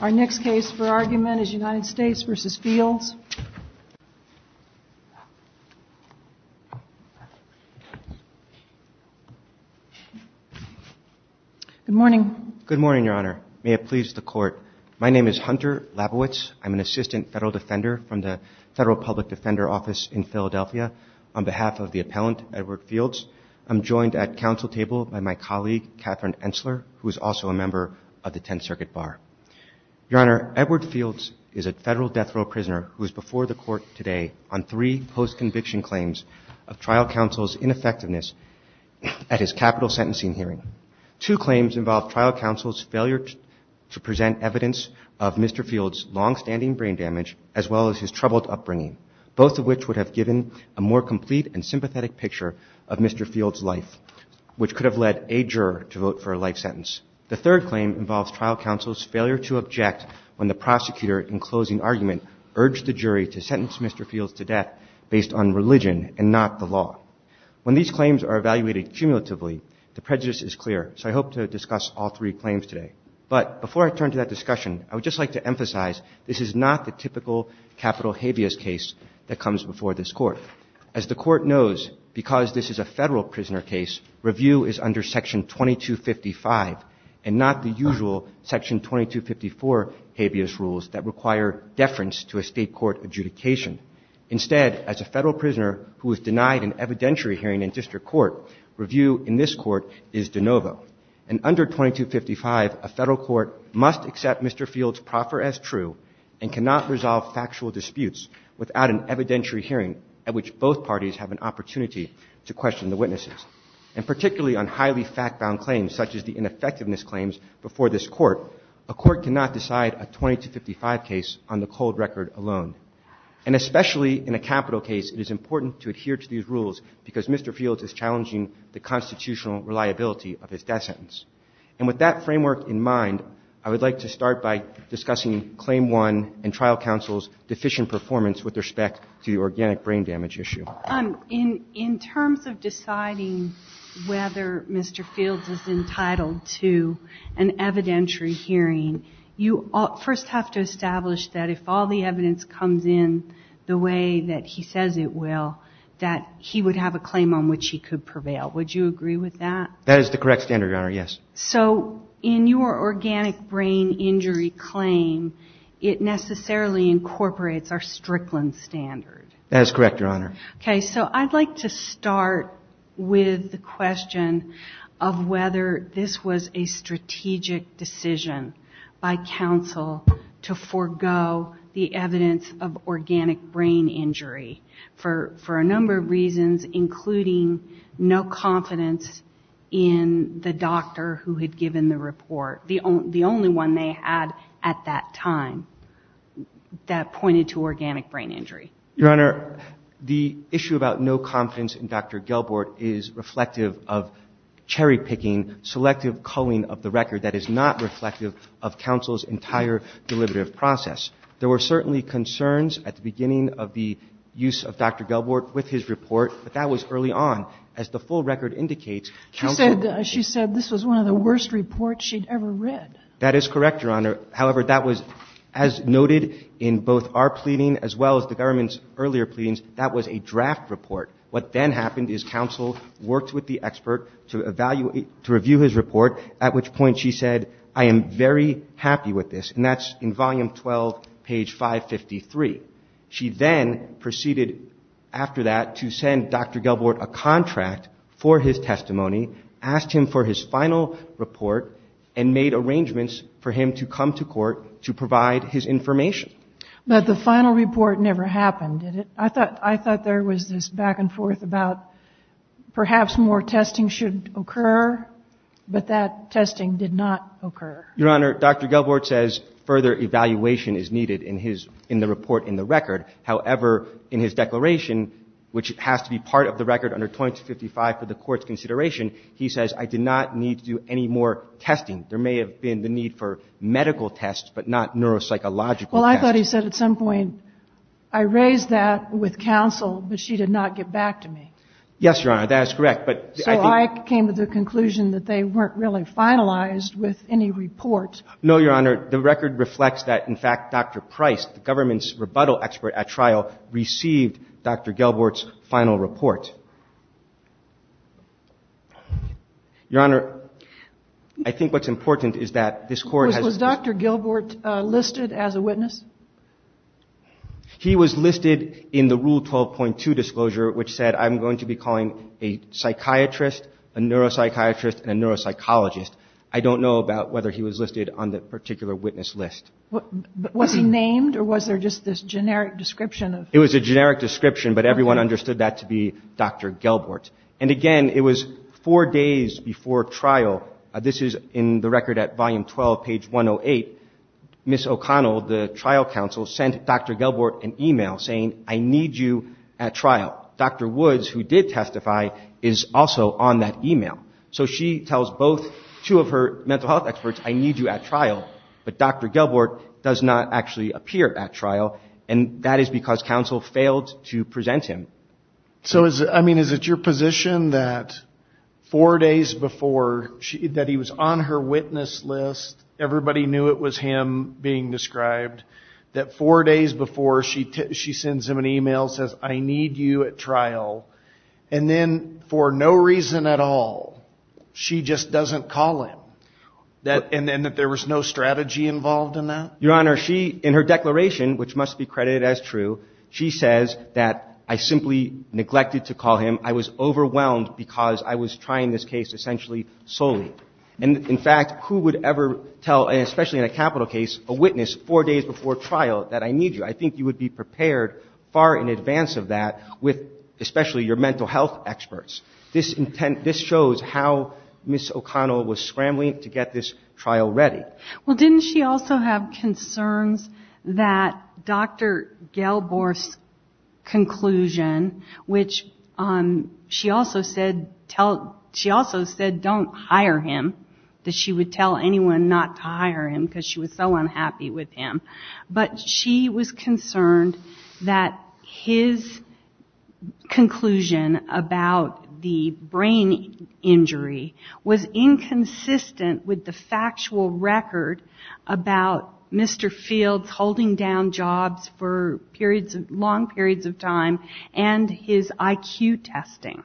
Our next case for argument is United States v. Fields. Good morning. Good morning, Your Honor. May it please the Court. My name is Hunter Labowitz. I'm an assistant federal defender from the Federal Public Defender Office in Philadelphia. On behalf of the appellant, Edward Fields, I'm joined at council table by my colleague, Catherine Ensler, who is also a member of the Tenth Circuit Bar. Your Honor, Edward Fields is a federal death row prisoner who is before the Court today on three post-conviction claims of trial counsel's ineffectiveness at his capital sentencing hearing. Two claims involve trial counsel's failure to present evidence of Mr. Fields' longstanding brain damage, as well as his troubled upbringing, both of which would have given a more complete and sympathetic picture of Mr. Fields' life, which could have led a juror to vote for a life sentence. The third claim involves trial counsel's failure to object when the prosecutor in closing argument urged the jury to sentence Mr. Fields to death based on religion and not the law. When these claims are evaluated cumulatively, the prejudice is clear, so I hope to discuss all three claims today. But before I turn to that discussion, I would just like to emphasize this is not the typical capital habeas case that comes before this Court. As the Court knows, because this is a federal prisoner case, review is under Section 2255 and not the usual Section 2254 habeas rules that require deference to a State court adjudication. Instead, as a federal prisoner who is denied an evidentiary hearing in district court, review in this court is de novo. And under 2255, a federal court must accept Mr. Fields' proffer as true and cannot resolve factual disputes without an evidentiary hearing at which both parties have an opportunity to question the witnesses. And particularly on highly fact-bound claims, such as the ineffectiveness claims before this Court, a court cannot decide a 2255 case on the cold record alone. And especially in a capital case, it is important to adhere to these rules because Mr. Fields is challenging the constitutional reliability of his death sentence. And with that framework in mind, I would like to start by discussing Claim 1 and trial counsel's deficient performance with respect to the organic brain damage issue. In terms of deciding whether Mr. Fields is entitled to an evidentiary hearing, you first have to establish that if all the evidence comes in the way that he says it will, that he would have a claim on which he could prevail. Would you agree with that? That is the correct standard, Your Honor. Yes. So in your organic brain injury claim, it necessarily incorporates our Strickland standard. That is correct, Your Honor. Okay. So I'd like to start with the question of whether this was a strategic decision by counsel to forego the evidence of organic brain injury for a number of reasons. Including no confidence in the doctor who had given the report. The only one they had at that time that pointed to organic brain injury. Your Honor, the issue about no confidence in Dr. Gelbort is reflective of cherry picking, selective culling of the record that is not reflective of counsel's entire deliberative process. There were certainly concerns at the beginning of the use of Dr. Gelbort with his report but that was early on. As the full record indicates, counsel She said this was one of the worst reports she'd ever read. That is correct, Your Honor. However, that was, as noted in both our pleading as well as the government's earlier pleadings, that was a draft report. What then happened is counsel worked with the expert to evaluate, to review his report, at which point she said, I am very happy with this. And that's in volume 12, page 553. She then proceeded after that to send Dr. Gelbort a contract for his testimony, asked him for his final report, and made arrangements for him to come to court to provide his information. But the final report never happened, did it? I thought there was this back and forth about perhaps more testing should occur, but that testing did not occur. Your Honor, Dr. Gelbort says further evaluation is needed in the report in the record. However, in his declaration, which has to be part of the record under 2255 for the Court's consideration, he says, I did not need to do any more testing. There may have been the need for medical tests but not neuropsychological tests. Well, I thought he said at some point, I raised that with counsel, but she did not get back to me. Yes, Your Honor, that is correct, but I think I'm coming to the conclusion that they weren't really finalized with any report. No, Your Honor. The record reflects that, in fact, Dr. Price, the government's rebuttal expert at trial, received Dr. Gelbort's final report. Your Honor, I think what's important is that this Court has been Was Dr. Gelbort listed as a witness? He was listed in the Rule 12.2 disclosure, which said, I'm going to be calling a psychiatrist, a neuropsychiatrist, and a neuropsychologist. I don't know about whether he was listed on the particular witness list. Was he named, or was there just this generic description? It was a generic description, but everyone understood that to be Dr. Gelbort. And, again, it was four days before trial. This is in the record at Volume 12, page 108. Ms. O'Connell, the trial counsel, sent Dr. Gelbort an email saying, I need you at trial. Dr. Woods, who did testify, is also on that email. So she tells both, two of her mental health experts, I need you at trial. But Dr. Gelbort does not actually appear at trial. And that is because counsel failed to present him. So, I mean, is it your position that four days before, that he was on her witness list, everybody knew it was him being described, that four days before she sends him an email, says, I need you at trial, and then for no reason at all, she just doesn't call him? And that there was no strategy involved in that? Your Honor, she, in her declaration, which must be credited as true, she says that I simply neglected to call him. I was overwhelmed because I was trying this case essentially solely. And, in fact, who would ever tell, and especially in a capital case, a witness four days before trial that I need you? I think you would be prepared far in advance of that with especially your mental health experts. This shows how Ms. O'Connell was scrambling to get this trial ready. Well, didn't she also have concerns that Dr. Gelbort's conclusion, which she also said don't hire him, that she would tell anyone not to hire him because she was so unhappy with him. But she was concerned that his conclusion about the brain injury was inconsistent with the factual record about Mr. Fields holding down jobs for periods, long periods of time, and his IQ testing.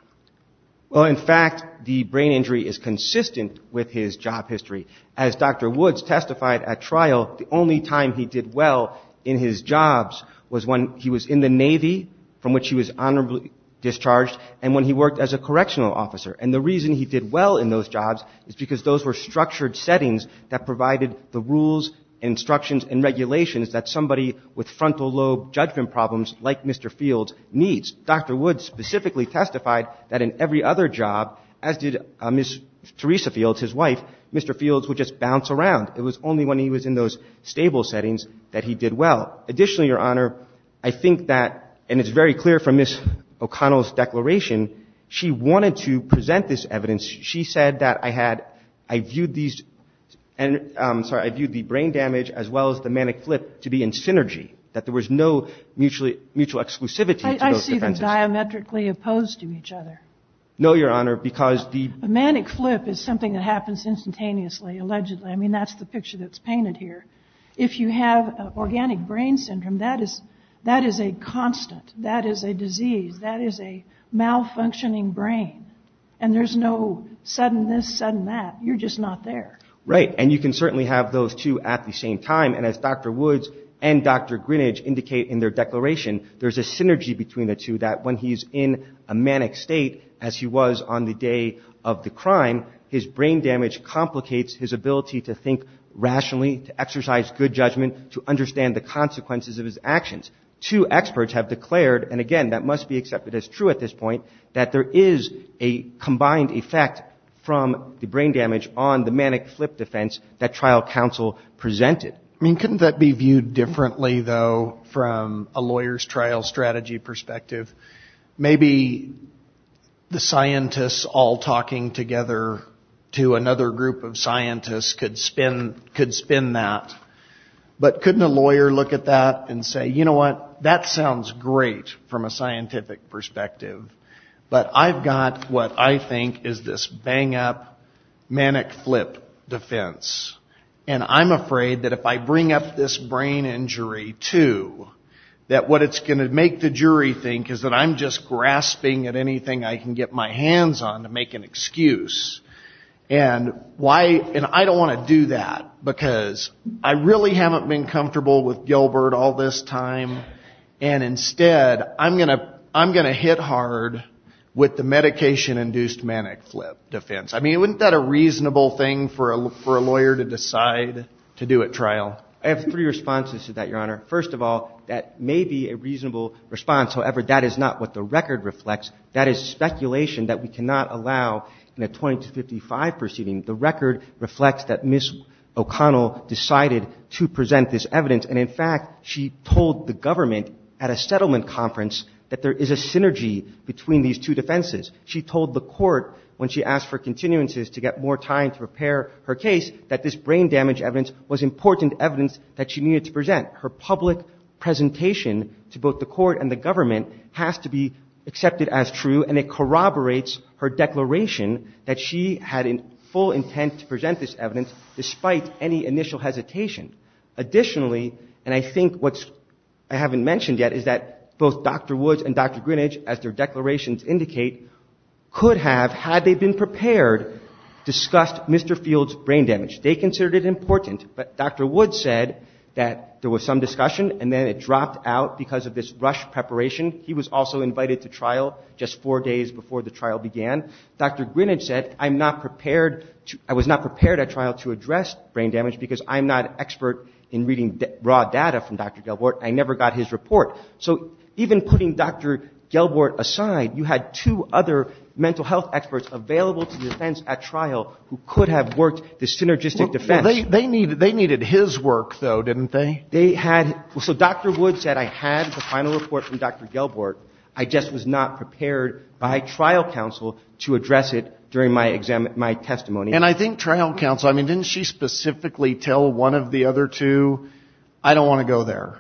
Well, in fact, the brain injury is consistent with his job history. As Dr. Woods testified at trial, the only time he did well in his jobs was when he was in the Navy, from which he was honorably discharged, and when he worked as a correctional officer. And the reason he did well in those jobs is because those were structured settings that provided the rules, instructions, and regulations that somebody with frontal lobe judgment problems like Mr. Fields needs. Dr. Woods specifically testified that in every other job, as did Ms. Theresa Fields, his wife, Mr. Fields would just bounce around. It was only when he was in those stable settings that he did well. Additionally, Your Honor, I think that, and it's very clear from Ms. O'Connell's declaration, she wanted to present this evidence. She said that I had – I viewed these – sorry, I viewed the brain damage as well as the manic flip to be in synergy, that there was no mutual exclusivity to those defendants. They weren't diametrically opposed to each other. No, Your Honor, because the – A manic flip is something that happens instantaneously, allegedly. I mean, that's the picture that's painted here. If you have organic brain syndrome, that is a constant. That is a disease. That is a malfunctioning brain. And there's no sudden this, sudden that. You're just not there. Right. And you can certainly have those two at the same time. And as Dr. Woods and Dr. Greenidge indicate in their declaration, there's a synergy between the two, that when he's in a manic state, as he was on the day of the crime, his brain damage complicates his ability to think rationally, to exercise good judgment, to understand the consequences of his actions. Two experts have declared, and again, that must be accepted as true at this point, that there is a combined effect from the brain damage on the manic flip defense that trial counsel presented. I mean, couldn't that be viewed differently, though, from a lawyer's trial strategy perspective? Maybe the scientists all talking together to another group of scientists could spin that. But couldn't a lawyer look at that and say, you know what, that sounds great from a scientific perspective, but I've got what I think is this bang-up manic flip defense. And I'm afraid that if I bring up this brain injury, too, that what it's going to make the jury think is that I'm just grasping at anything I can get my hands on to make an excuse. And I don't want to do that, because I really haven't been comfortable with Gilbert all this time, and instead I'm going to hit hard with the medication-induced manic flip defense. I mean, wouldn't that a reasonable thing for a lawyer to decide to do at trial? I have three responses to that, Your Honor. First of all, that may be a reasonable response. However, that is not what the record reflects. That is speculation that we cannot allow in a 20-55 proceeding. The record reflects that Ms. O'Connell decided to present this evidence, and in fact she told the government at a settlement conference that there is a synergy between these two defenses. She told the court when she asked for continuances to get more time to prepare her case that this brain damage evidence was important evidence that she needed to present. Her public presentation to both the court and the government has to be accepted as true, and it corroborates her declaration that she had full intent to present this evidence despite any initial hesitation. Additionally, and I think what I haven't mentioned yet, is that both Dr. Woods and Dr. Greenidge, as their declarations indicate, could have, had they been prepared, discussed Mr. Field's brain damage. They considered it important, but Dr. Woods said that there was some discussion, and then it dropped out because of this rushed preparation. He was also invited to trial just four days before the trial began. Dr. Greenidge said, I was not prepared at trial to address brain damage because I'm not an expert in reading raw data from Dr. Gelbort. I never got his report. So even putting Dr. Gelbort aside, you had two other mental health experts available to the defense at trial who could have worked the synergistic defense. They needed his work, though, didn't they? They had. So Dr. Woods said, I had the final report from Dr. Gelbort. I just was not prepared by trial counsel to address it during my testimony. And I think trial counsel, I mean, didn't she specifically tell one of the other two, I don't want to go there?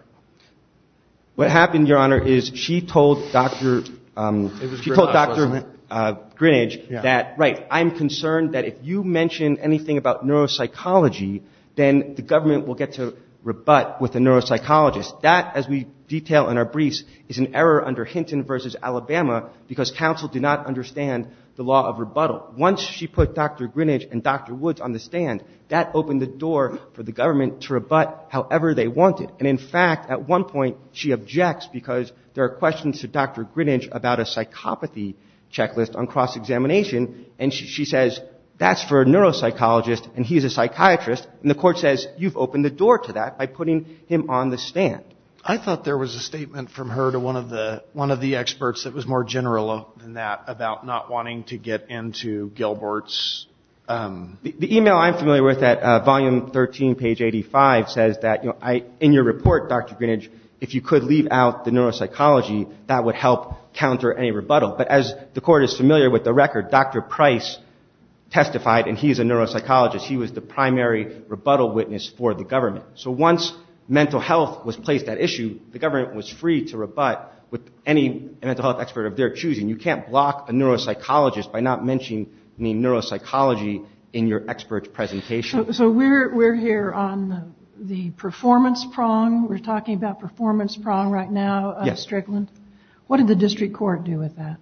What happened, Your Honor, is she told Dr. Greenidge that, right, I'm concerned that if you mention anything about neuropsychology, then the government will get to rebut with a neuropsychologist. That, as we detail in our briefs, is an error under Hinton v. Alabama because counsel did not understand the law of rebuttal. Once she put Dr. Greenidge and Dr. Woods on the stand, that opened the door for the government to rebut however they wanted. And, in fact, at one point she objects because there are questions to Dr. Greenidge about a psychopathy checklist on cross-examination, and she says, that's for a neuropsychologist and he's a psychiatrist. And the court says, you've opened the door to that by putting him on the stand. I thought there was a statement from her to one of the experts that was more general than that about not wanting to get into Gilbert's. The email I'm familiar with at volume 13, page 85, says that in your report, Dr. Greenidge, if you could leave out the neuropsychology, that would help counter any rebuttal. But as the court is familiar with the record, Dr. Price testified, and he's a neuropsychologist. He was the primary rebuttal witness for the government. So once mental health was placed at issue, the government was free to rebut with any mental health expert of their choosing. You can't block a neuropsychologist by not mentioning neuropsychology in your expert presentation. So we're here on the performance prong. We're talking about performance prong right now, Strickland. Yes. What did the district court do with that?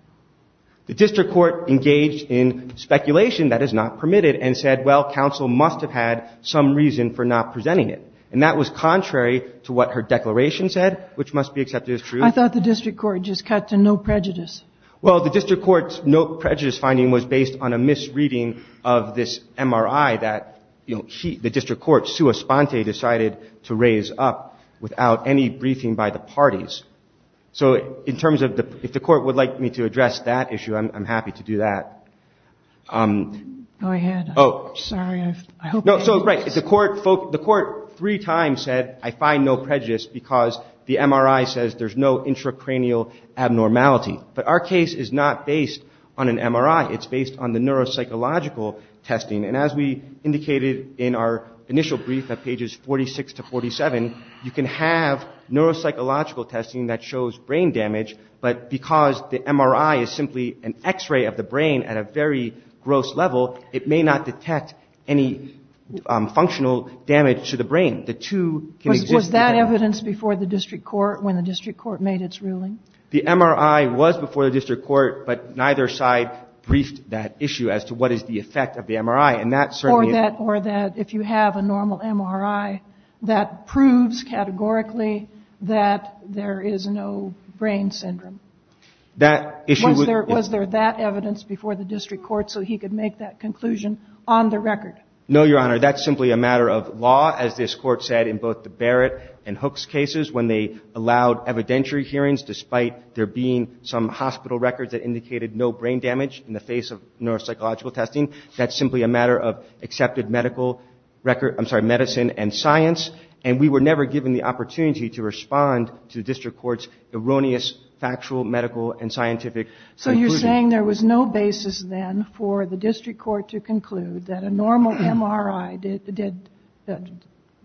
The district court engaged in speculation that is not permitted and said, well, counsel must have had some reason for not presenting it. And that was contrary to what her declaration said, which must be accepted as true. I thought the district court just cut to no prejudice. Well, the district court's no prejudice finding was based on a misreading of this MRI that, you know, the district court, sua sponte, decided to raise up without any briefing by the parties. So in terms of if the court would like me to address that issue, I'm happy to do that. Go ahead. Oh. Sorry. No, so right. The court three times said, I find no prejudice because the MRI says there's no intracranial abnormality. But our case is not based on an MRI. It's based on the neuropsychological testing. And as we indicated in our initial brief at pages 46 to 47, you can have neuropsychological testing that shows brain damage, but because the MRI is simply an X-ray of the brain at a very gross level, it may not detect any functional damage to the brain. The two can exist together. Was that evidence before the district court when the district court made its ruling? The MRI was before the district court, but neither side briefed that issue as to what is the effect of the MRI. And that certainly is. Or that if you have a normal MRI, that proves categorically that there is no brain syndrome. That issue. Was there that evidence before the district court so he could make that conclusion on the record? No, Your Honor. That's simply a matter of law. As this court said in both the Barrett and Hooks cases, when they allowed evidentiary hearings, despite there being some hospital records that indicated no brain damage in the face of neuropsychological testing, that's simply a matter of accepted medical record. I'm sorry, medicine and science. And we were never given the opportunity to respond to the district court's erroneous factual medical and scientific conclusion. You're saying there was no basis then for the district court to conclude that a normal MRI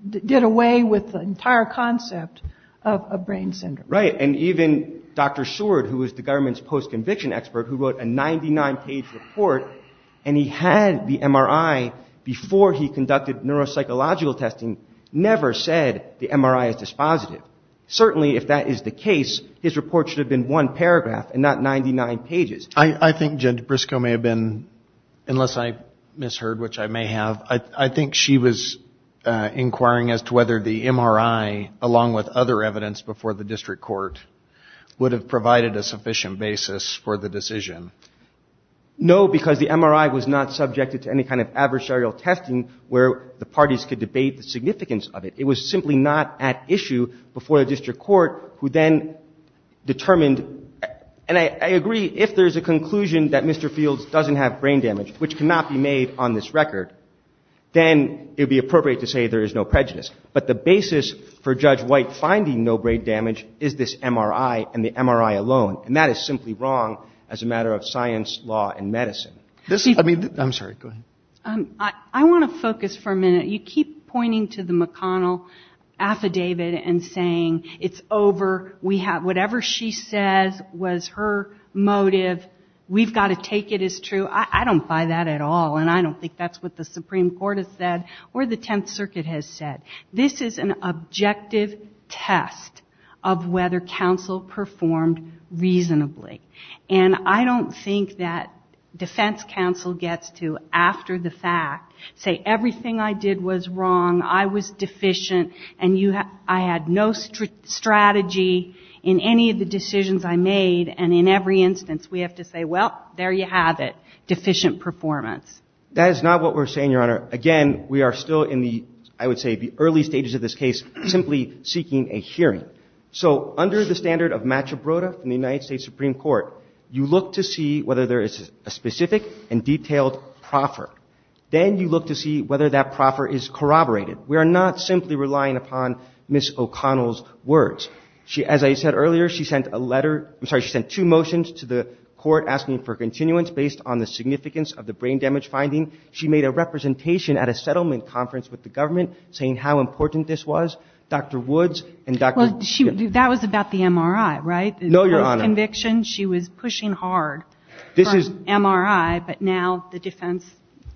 did away with the entire concept of brain syndrome. Right. And even Dr. Seward, who was the government's post-conviction expert, who wrote a 99-page report, and he had the MRI before he conducted neuropsychological testing, never said the MRI is dispositive. Certainly, if that is the case, his report should have been one paragraph and not 99 pages. I think Judge Briscoe may have been, unless I misheard, which I may have, I think she was inquiring as to whether the MRI, along with other evidence before the district court, would have provided a sufficient basis for the decision. No, because the MRI was not subjected to any kind of adversarial testing where the parties could debate the significance of it. It was simply not at issue before the district court, who then determined, and I agree if there's a conclusion that Mr. Fields doesn't have brain damage, which cannot be made on this record, then it would be appropriate to say there is no prejudice. But the basis for Judge White finding no brain damage is this MRI and the MRI alone. And that is simply wrong as a matter of science, law, and medicine. I'm sorry. Go ahead. I want to focus for a minute. You keep pointing to the McConnell affidavit and saying it's over. Whatever she says was her motive. We've got to take it as true. I don't buy that at all, and I don't think that's what the Supreme Court has said or the Tenth Circuit has said. This is an objective test of whether counsel performed reasonably. And I don't think that defense counsel gets to, after the fact, say everything I did was wrong, I was deficient, and I had no strategy in any of the decisions I made. And in every instance, we have to say, well, there you have it, deficient performance. That is not what we're saying, Your Honor. Again, we are still in the, I would say, the early stages of this case, simply seeking a hearing. So under the standard of matcha broda from the United States Supreme Court, you look to see whether there is a specific and detailed proffer. Then you look to see whether that proffer is corroborated. We are not simply relying upon Ms. O'Connell's words. As I said earlier, she sent a letter, I'm sorry, she sent two motions to the court asking for continuance based on the significance of the brain damage finding. She made a representation at a settlement conference with the government saying how important this was. Dr. Woods and Dr. — Well, that was about the MRI, right? No, Your Honor. In her conviction, she was pushing hard for MRI, but now the defense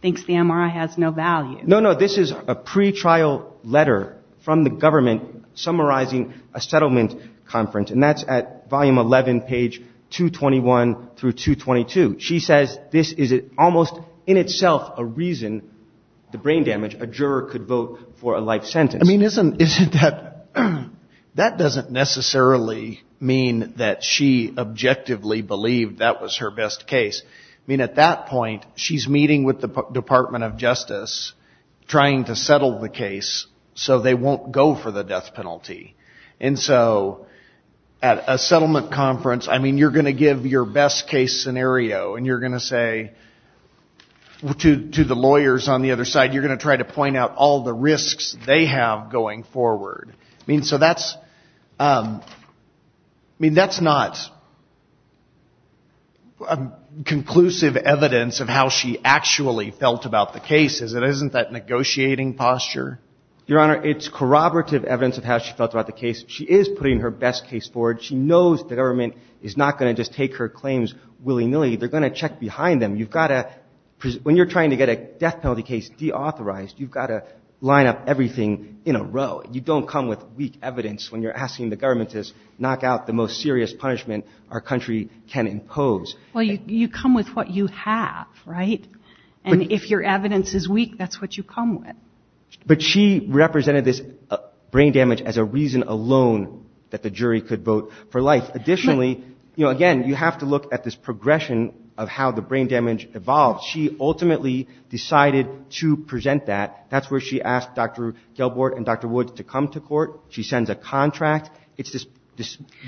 thinks the MRI has no value. No, no, this is a pretrial letter from the government summarizing a settlement conference, and that's at volume 11, page 221 through 222. She says this is almost in itself a reason, the brain damage, a juror could vote for a life sentence. I mean, isn't that — that doesn't necessarily mean that she objectively believed that was her best case. I mean, at that point, she's meeting with the Department of Justice trying to settle the case so they won't go for the death penalty. And so at a settlement conference, I mean, you're going to give your best case scenario, and you're going to say to the lawyers on the other side, you're going to try to point out all the risks they have going forward. I mean, so that's — I mean, that's not conclusive evidence of how she actually felt about the case, is it? Isn't that negotiating posture? Your Honor, it's corroborative evidence of how she felt about the case. She is putting her best case forward. She knows the government is not going to just take her claims willy-nilly. They're going to check behind them. You've got to — when you're trying to get a death penalty case deauthorized, you've got to line up everything in a row. You don't come with weak evidence when you're asking the government to knock out the most serious punishment our country can impose. And so she's not alone that the jury could vote for life. Additionally, you know, again, you have to look at this progression of how the brain damage evolved. She ultimately decided to present that. That's where she asked Dr. Gelbort and Dr. Woods to come to court. She sends a contract.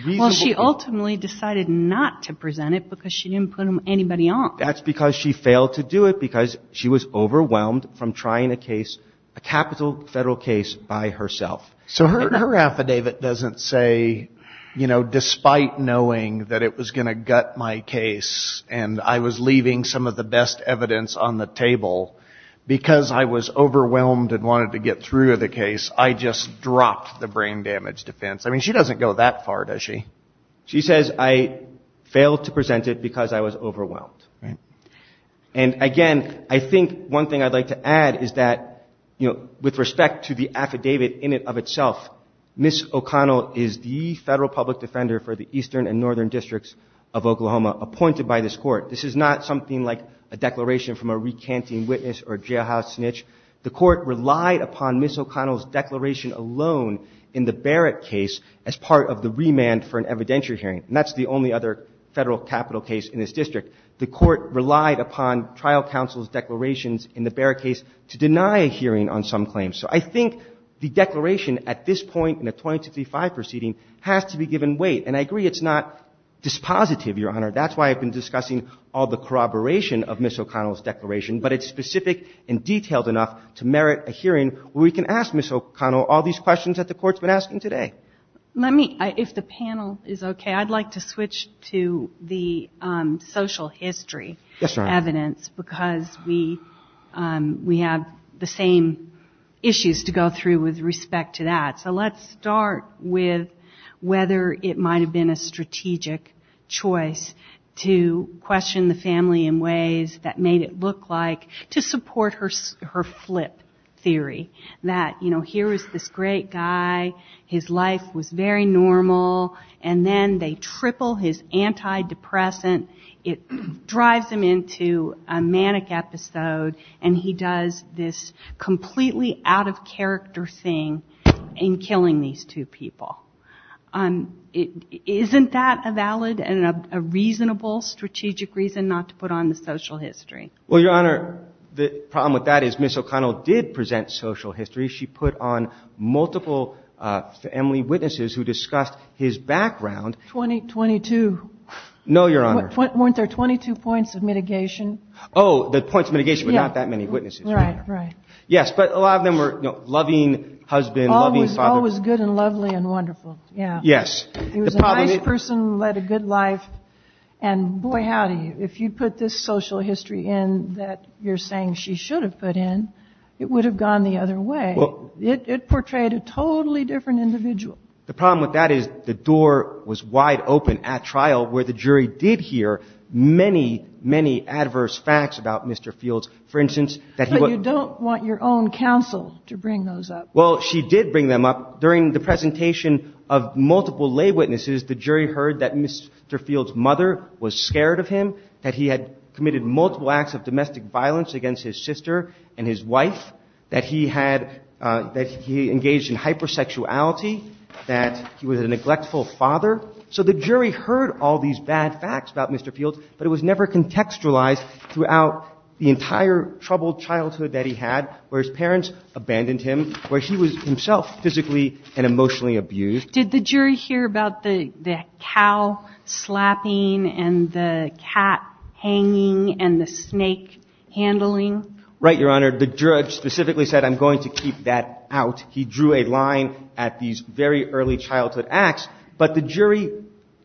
Well, she ultimately decided not to present it because she didn't put anybody on. That's because she failed to do it because she was overwhelmed from trying a case, a capital federal case, by herself. So her affidavit doesn't say, you know, despite knowing that it was going to gut my case and I was leaving some of the best evidence on the table, because I was overwhelmed and wanted to get through to the case, I just dropped the brain damage defense. I mean, she doesn't go that far, does she? She says, I failed to present it because I was overwhelmed. And again, I think one thing I'd like to add is that, you know, with respect to the affidavit in it of itself, Ms. O'Connell is the federal public defender for the eastern and northern districts of Oklahoma appointed by this court. This is not something like a declaration from a recanting witness or jailhouse snitch. The court relied upon Ms. O'Connell's declaration alone in the Barrett case as part of the remand for an evidentiary hearing. And that's the only other federal capital case in this district. The court relied upon trial counsel's declarations in the Barrett case to deny a hearing on some claims. So I think the declaration at this point in the 2065 proceeding has to be given weight. And I agree it's not dispositive, Your Honor. That's why I've been discussing all the corroboration of Ms. O'Connell's declaration. But it's specific and detailed enough to merit a hearing where we can ask Ms. O'Connell all these questions that the court's been asking today. Let me, if the panel is okay, I'd like to switch to the social history evidence. Yes, Your Honor. Because we have the same issues to go through with respect to that. So let's start with whether it might have been a strategic choice to question the family in ways that made it look like to support her flip theory. That, you know, here is this great guy. His life was very normal. And then they triple his antidepressant. It drives him into a manic episode. And he does this completely out-of-character thing in killing these two people. Isn't that a valid and a reasonable strategic reason not to put on the social history? Well, Your Honor, the problem with that is Ms. O'Connell did present social history. She put on multiple family witnesses who discussed his background. Twenty-two. No, Your Honor. Weren't there 22 points of mitigation? Oh, the points of mitigation were not that many witnesses, Your Honor. Right, right. Well, Ms. O'Connell was wide open at trial where the jury did hear many, many adverse facts about Mr. Fields. For instance, that he was But you don't want your own counsel to bring those up. Well, she did bring them up during the presentation of multiple lay witnesses. The jury heard that Mr. Fields' mother was scared of him, that he had committed multiple acts of domestic violence against his sister and his wife, that he engaged in hypersexuality, that he was a neglectful father. So the jury heard all these bad facts about Mr. Fields, but it was never contextualized throughout the entire troubled childhood that he had where his parents abandoned him, where he was himself physically and emotionally abused. Did the jury hear about the cow slapping and the cat hanging and the snake handling? Right, Your Honor. Where the judge specifically said, I'm going to keep that out. He drew a line at these very early childhood acts. But the jury,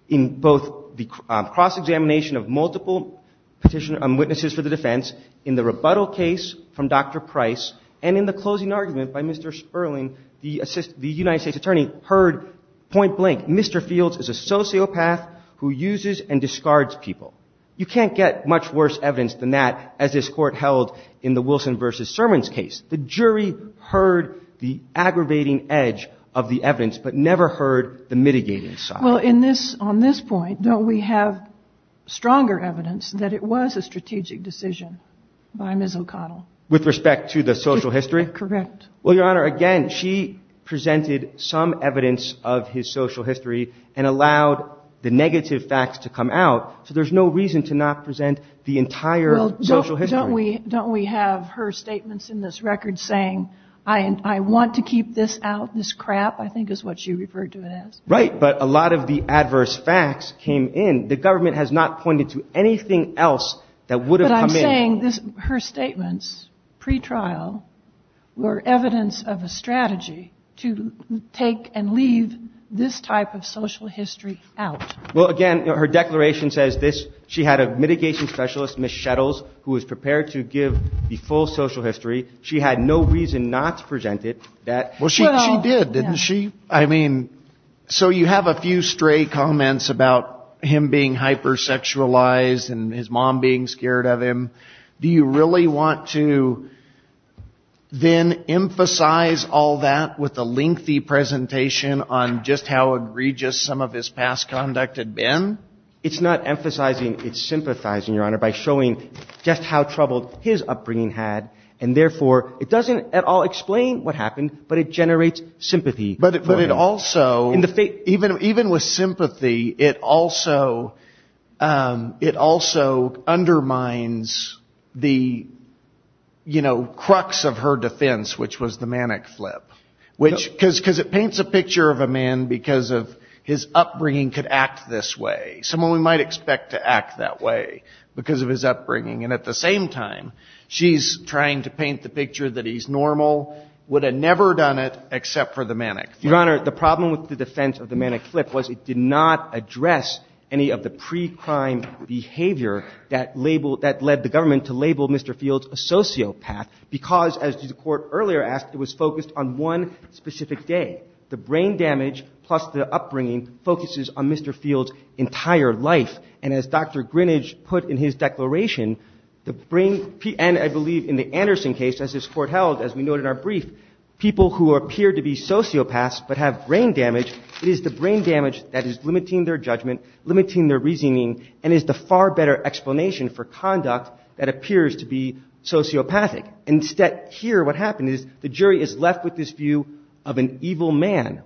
in both the cross-examination of multiple witnesses for the defense, in the rebuttal case from Dr. Price, and in the closing argument by Mr. Erling, the United States attorney heard point blank, Mr. Fields is a sociopath who uses and discards people. You can't get much worse evidence than that, as this Court held in the Wilson v. Sermons case. The jury heard the aggravating edge of the evidence, but never heard the mitigating side. Well, on this point, don't we have stronger evidence that it was a strategic decision by Ms. O'Connell? With respect to the social history? Correct. Well, Your Honor, again, she presented some evidence of his social history and allowed the negative facts to come out. So there's no reason to not present the entire social history. Don't we have her statements in this record saying, I want to keep this out, this crap, I think is what she referred to it as. Right, but a lot of the adverse facts came in. The government has not pointed to anything else that would have come in. There's no evidence of a strategy to take and leave this type of social history out. Well, again, her declaration says this. She had a mitigation specialist, Ms. Shettles, who was prepared to give the full social history. She had no reason not to present it. Well, she did, didn't she? I mean, so you have a few stray comments about him being hyper-sexualized and his mom being scared of him. Do you really want to then emphasize all that with a lengthy presentation on just how egregious some of his past conduct had been? It's not emphasizing, it's sympathizing, Your Honor, by showing just how troubled his upbringing had. And therefore, it doesn't at all explain what happened, but it generates sympathy. But it also, even with sympathy, it also undermines the, you know, crux of her defense, which was the manic flip. Because it paints a picture of a man, because of his upbringing, could act this way. Someone we might expect to act that way because of his upbringing. And at the same time, she's trying to paint the picture that he's normal, would have never done it except for the manic flip. Your Honor, the problem with the defense of the manic flip was it did not address any of the pre-crime behavior that labeled that led the government to label Mr. Fields a sociopath, because, as the Court earlier asked, it was focused on one specific day. The brain damage plus the upbringing focuses on Mr. Fields' entire life. And as Dr. Greenidge put in his declaration, the brain, and I believe in the Anderson case, as this Court held, as we noted in our brief, people who appear to be sociopaths but have brain damage, it is the brain damage that is limiting their judgment, limiting their reasoning, and is the far better explanation for conduct that appears to be sociopathic. Instead, here what happened is the jury is left with this view of an evil man,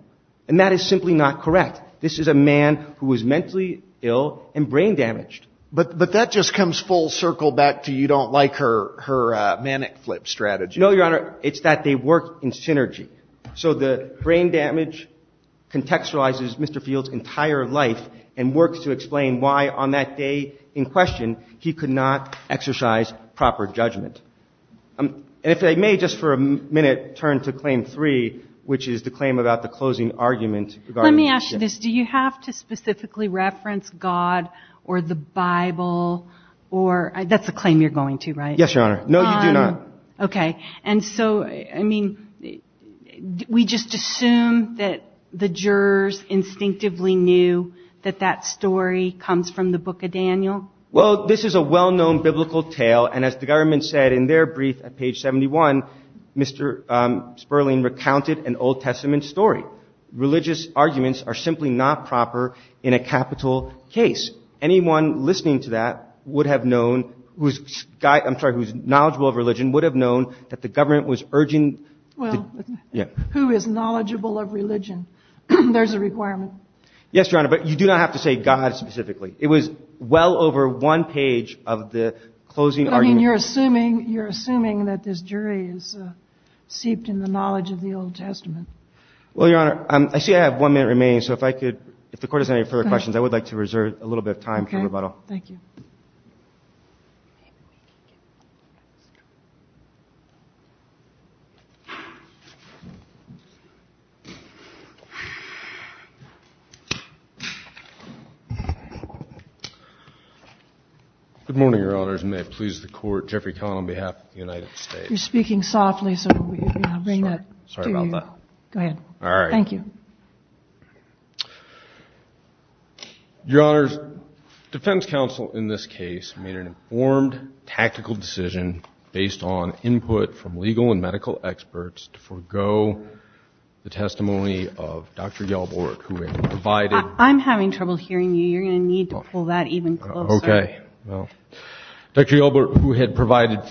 and that is simply not correct. This is a man who is mentally ill and brain damaged. But that just comes full circle back to you don't like her manic flip strategy. No, Your Honor. It's that they work in synergy. So the brain damage contextualizes Mr. Fields' entire life and works to explain why on that day in question he could not exercise proper judgment. And if I may just for a minute turn to Claim 3, which is the claim about the closing argument. Let me ask you this. Do you have to specifically reference God or the Bible or that's a claim you're going to, right? Yes, Your Honor. No, you do not. Okay. And so, I mean, we just assume that the jurors instinctively knew that that story comes from the Book of Daniel? Well, this is a well-known biblical tale, and as the government said in their brief at page 71, Mr. Sperling recounted an Old Testament story. Religious arguments are simply not proper in a capital case. Anyone listening to that would have known whose knowledgeable of religion would have known that the government was urging Well, who is knowledgeable of religion? There's a requirement. Yes, Your Honor, but you do not have to say God specifically. It was well over one page of the closing argument. And you're assuming that this jury is seeped in the knowledge of the Old Testament? Well, Your Honor, I see I have one minute remaining, so if the Court has any further questions, I would like to reserve a little bit of time for rebuttal. Okay. Thank you. Good morning, Your Honors, and may it please the Court, Jeffrey Cohen on behalf of the United States. You're speaking softly, so I'll bring that to you. Sorry about that. Go ahead. Thank you. I'm having trouble hearing you. You're going to need to pull that even closer. Okay. Does that matter?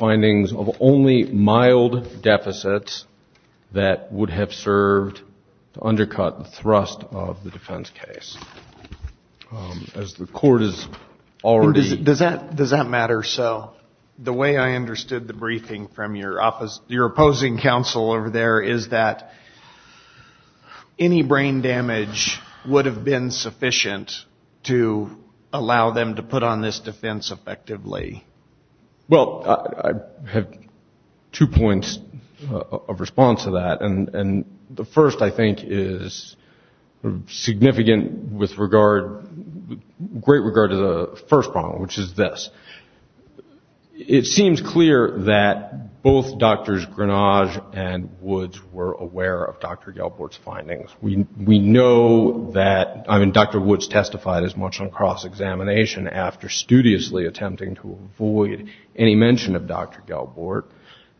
So the way I understood the briefing from your opposing counsel over there is that any brain damage would have been sufficient to allow them to put on this defense effectively? Well, I have two points of response to that. And the first, I think, is significant with great regard to the first problem, which is this. It seems clear that both Drs. Grenage and Woods were aware of Dr. Gelbort's findings. We know that Dr. Woods testified as much on cross-examination after studiously attempting to avoid any mention of Dr. Gelbort.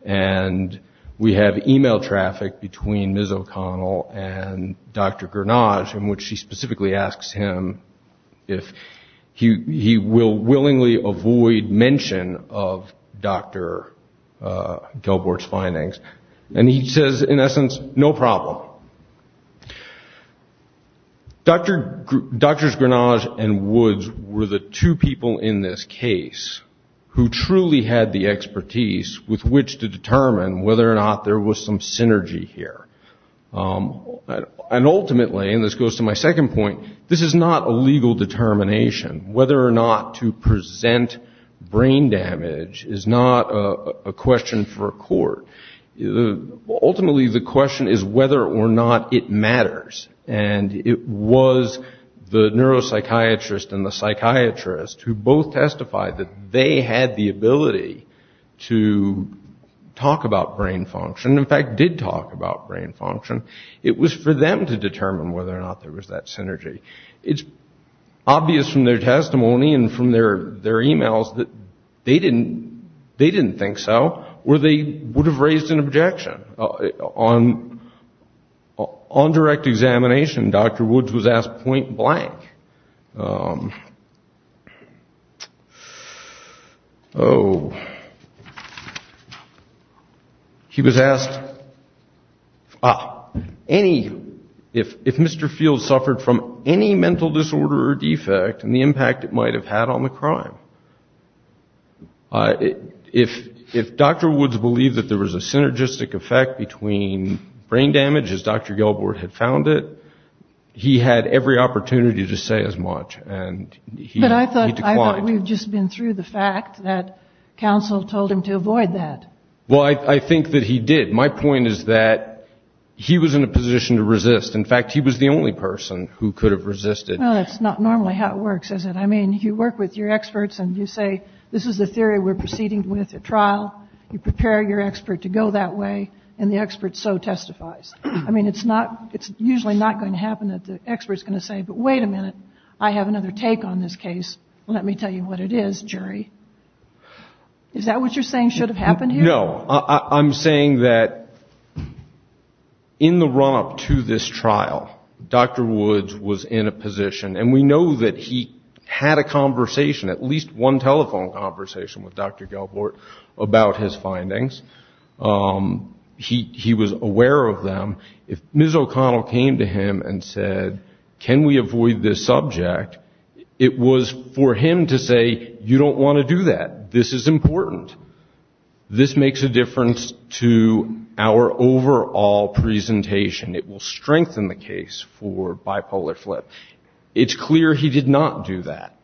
And we have e-mail traffic between Ms. O'Connell and Dr. Grenage, in which she specifically asks him if he will willingly avoid mention of Dr. Gelbort's findings. And he says, in essence, no problem. Drs. Grenage and Woods were the two people in this case who truly had the expertise with which to make the case. With which to determine whether or not there was some synergy here. And ultimately, and this goes to my second point, this is not a legal determination. Whether or not to present brain damage is not a question for a court. Ultimately, the question is whether or not it matters. And it was the neuropsychiatrist and the psychiatrist who both testified that they had the ability to make the case. They did talk about brain function. In fact, did talk about brain function. It was for them to determine whether or not there was that synergy. It's obvious from their testimony and from their e-mails that they didn't think so. Or they would have raised an objection. On direct examination, Dr. Woods was asked point blank. He was asked if Mr. Fields suffered from any mental disorder or defect and the impact it might have had on the crime. If Dr. Woods believed that there was a synergistic effect between brain damage, as Dr. Gelbort had found it, he had every opportunity to say as much. But I thought we've just been through the fact that counsel told him to avoid that. Well, I think that he did. My point is that he was in a position to resist. In fact, he was the only person who could have resisted. Well, that's not normally how it works, is it? I mean, you work with your experts and you say, this is the theory we're proceeding with at trial. You prepare your expert to go that way and the expert so testifies. I mean, it's usually not going to happen that the expert's going to say, but wait a minute, I have another take on this case. Let me tell you what it is, jury. Is that what you're saying should have happened here? No. I'm saying that in the run-up to this trial, Dr. Woods was in a position, and we know that he had a conversation, at least one telephone conversation with Dr. Gelbort about his findings. He was aware of them. If Ms. O'Connell came to him and said, can we avoid this subject, it was for him to say, you don't want to do that. This is important. This makes a difference to our overall presentation. It will strengthen the case for bipolar flip. It's clear he did not do that.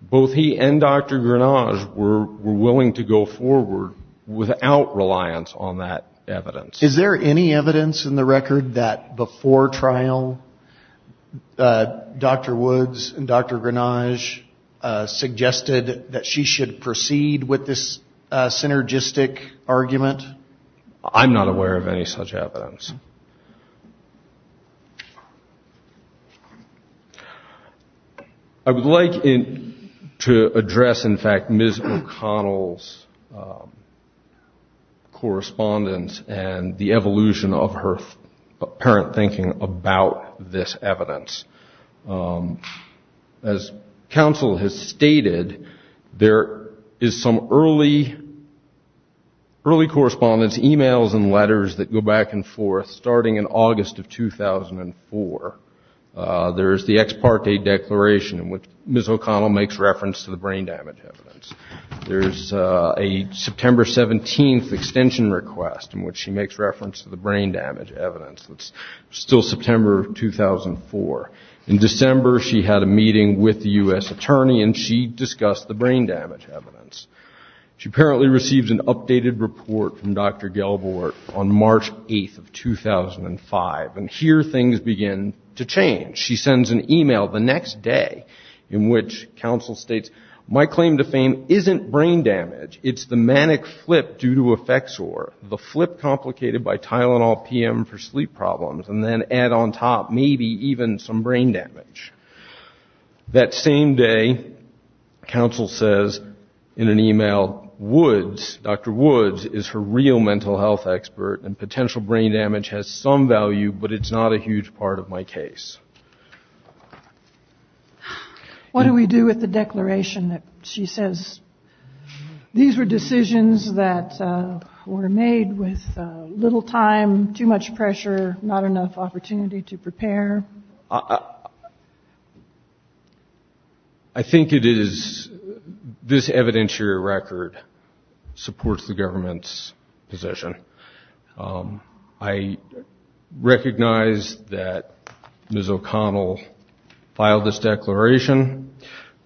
Both he and Dr. Grenage were willing to go forward without reliance on that evidence. Is there any evidence in the record that before trial Dr. Woods and Dr. Grenage suggested that she should proceed with this synergistic argument? I'm not aware of any such evidence. I would like to address, in fact, Ms. O'Connell's correspondence and the evolution of her apparent thinking about this evidence. As counsel has stated, there is some early, early correlation in correspondence, e-mails and letters that go back and forth starting in August of 2004. There is the ex parte declaration in which Ms. O'Connell makes reference to the brain damage evidence. There is a September 17th extension request in which she makes reference to the brain damage evidence. It's still September of 2004. In December she had a meeting with the U.S. attorney and she discussed the brain damage evidence. She apparently receives an updated report from Dr. Gelborg on March 8th of 2005. And here things begin to change. She sends an e-mail the next day in which counsel states, my claim to fame isn't brain damage. It's the manic flip due to effect sore. The flip complicated by Tylenol PM for sleep problems and then add on top maybe even some brain damage. That same day, counsel says in an e-mail, Woods, Dr. Woods is her real mental health expert and potential brain damage has some value but it's not a huge part of my case. What do we do with the declaration that she says these were decisions that were made with little time, too much pressure, not enough opportunity to prepare? I think it is this evidentiary record supports the government's position. I recognize that Ms. O'Connell filed this declaration.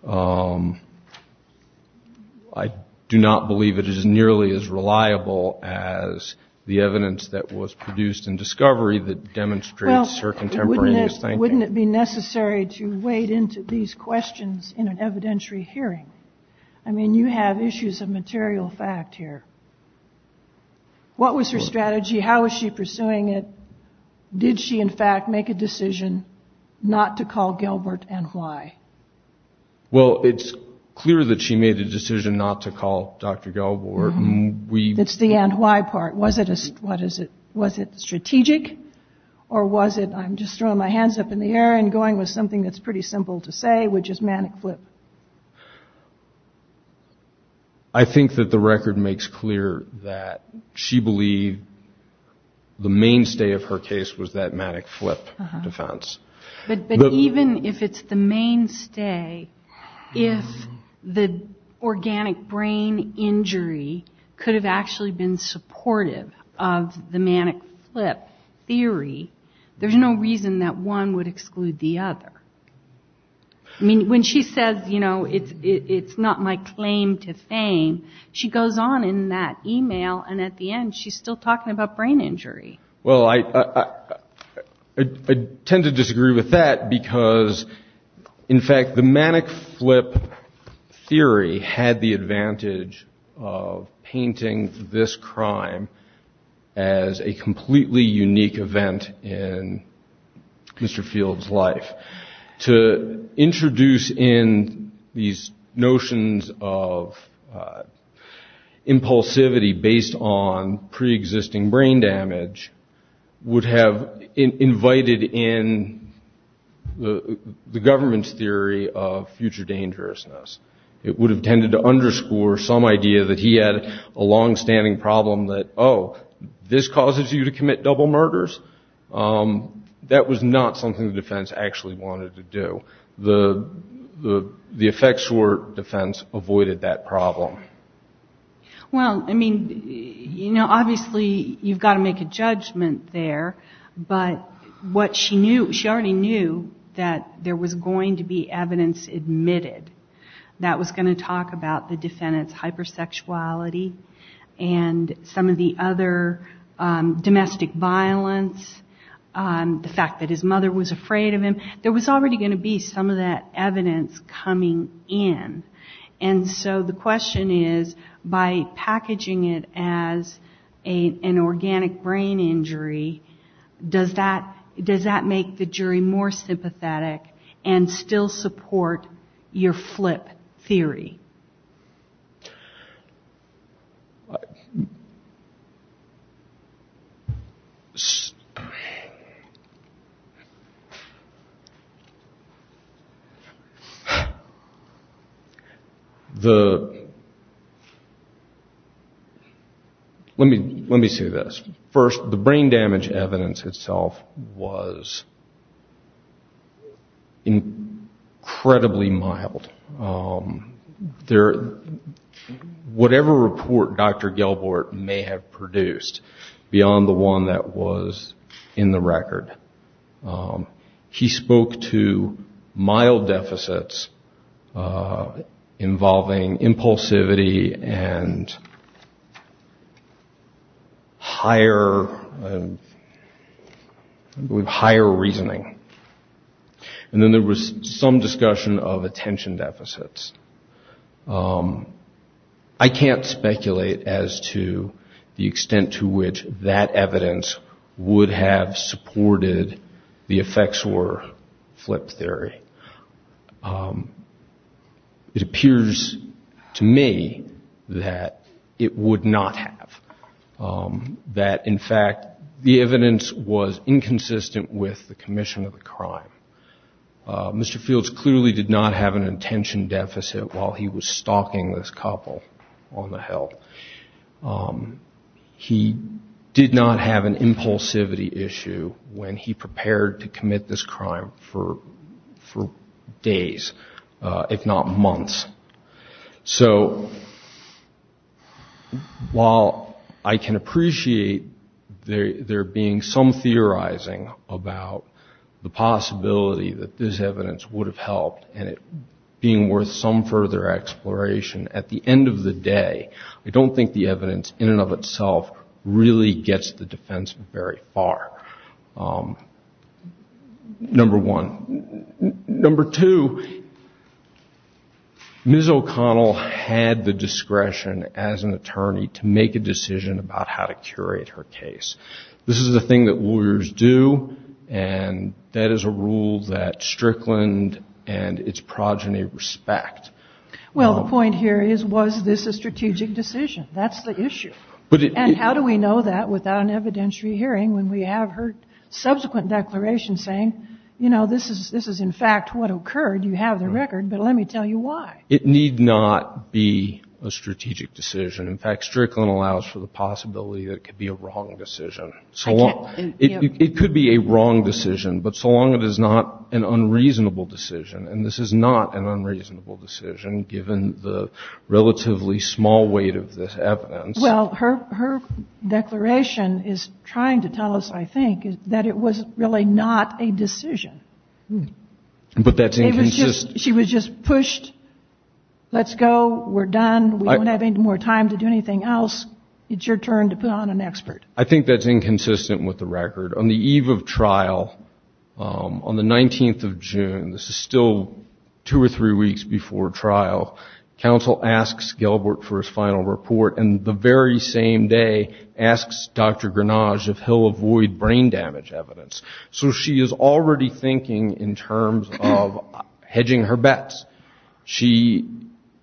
I do not believe it is nearly as reliable as the evidence that was produced in discovery that demonstrates her contemporaneous thinking. Wouldn't it be necessary to wade into these questions in an evidentiary hearing? I mean, you have issues of material fact here. What was her strategy? How was she pursuing it? Did she, in fact, make a decision not to call Gilbert and why? Well, it's clear that she made a decision not to call Dr. Gilbert. It's the and why part. Was it strategic or was it I'm just throwing my hands up in the air and going with something that's pretty simple to say, which is manic flip? I think that the record makes clear that she believed the mainstay of her decision was that manic flip defense. But even if it's the mainstay, if the organic brain injury could have actually been supportive of the manic flip theory, there's no reason that one would exclude the other. I mean, when she says, you know, it's not my claim to fame, she goes on in that email and at the end she's still talking about brain injury. I tend to disagree with that because, in fact, the manic flip theory had the advantage of painting this crime as a completely unique event in Mr. Field's life. To introduce in these notions of impulsivity based on pre-existing brain damage would not have been a good idea. It would have invited in the government's theory of future dangerousness. It would have tended to underscore some idea that he had a longstanding problem that, oh, this causes you to commit double murders. That was not something the defense actually wanted to do. The effects were defense avoided that problem. Well, I mean, you know, obviously you've got to make a judgment there. But what she knew, she already knew that there was going to be evidence admitted that was going to talk about the defendant's hypersexuality and some of the other domestic violence, the fact that his mother was afraid of him. There was already going to be some of that evidence coming in. And so the question is, by packaging it as an organic brain injury, does that make the jury more sympathetic and still support your flip theory? The, let me say this. First, the brain damage evidence itself was incredibly mild. Whatever report Dr. Gelbort may have produced beyond the one that was in the record, he spoke to mild deficits. Involving impulsivity and higher, I believe, higher reasoning. And then there was some discussion of attention deficits. I can't speculate as to the extent to which that evidence would have supported the effects or flip theory. It appears to me that it would not have. That, in fact, the evidence was inconsistent with the commission of the crime. Mr. Fields clearly did not have an attention deficit while he was stalking this couple on the Hill. He did not have an impulsivity issue when he prepared to commit this crime for the first time. He did not have an attention deficit for days, if not months. So while I can appreciate there being some theorizing about the possibility that this evidence would have helped and it being worth some further exploration, at the end of the day, I don't think the evidence in and of itself really gets the defense very far. Number one. Number two, Ms. O'Connell had the discretion as an attorney to make a decision about how to curate her case. This is a thing that lawyers do, and that is a rule that Strickland and its progeny respect. Well, the point here is, was this a strategic decision? That's the issue. And how do we know that without an evidentiary hearing when we have her subsequent declaration saying, you know, this is in fact what occurred, you have the record, but let me tell you why. It need not be a strategic decision. In fact, Strickland allows for the possibility that it could be a wrong decision. It could be a wrong decision, but so long as it is not an unreasonable decision, and this is not an unreasonable decision, given the relatively small weight of this evidence. Well, her declaration is trying to tell us, I think, that it was really not a decision. But that's inconsistent. She was just pushed, let's go, we're done, we don't have any more time to do anything else, it's your turn to put on an expert. I think that's inconsistent with the record. On the eve of trial, on the 19th of June, this is still two or three weeks before trial, counsel asks Gilbert for his final report, and the very same day asks Dr. Grenage if he'll avoid brain damage evidence. So she is already thinking in terms of hedging her bets. She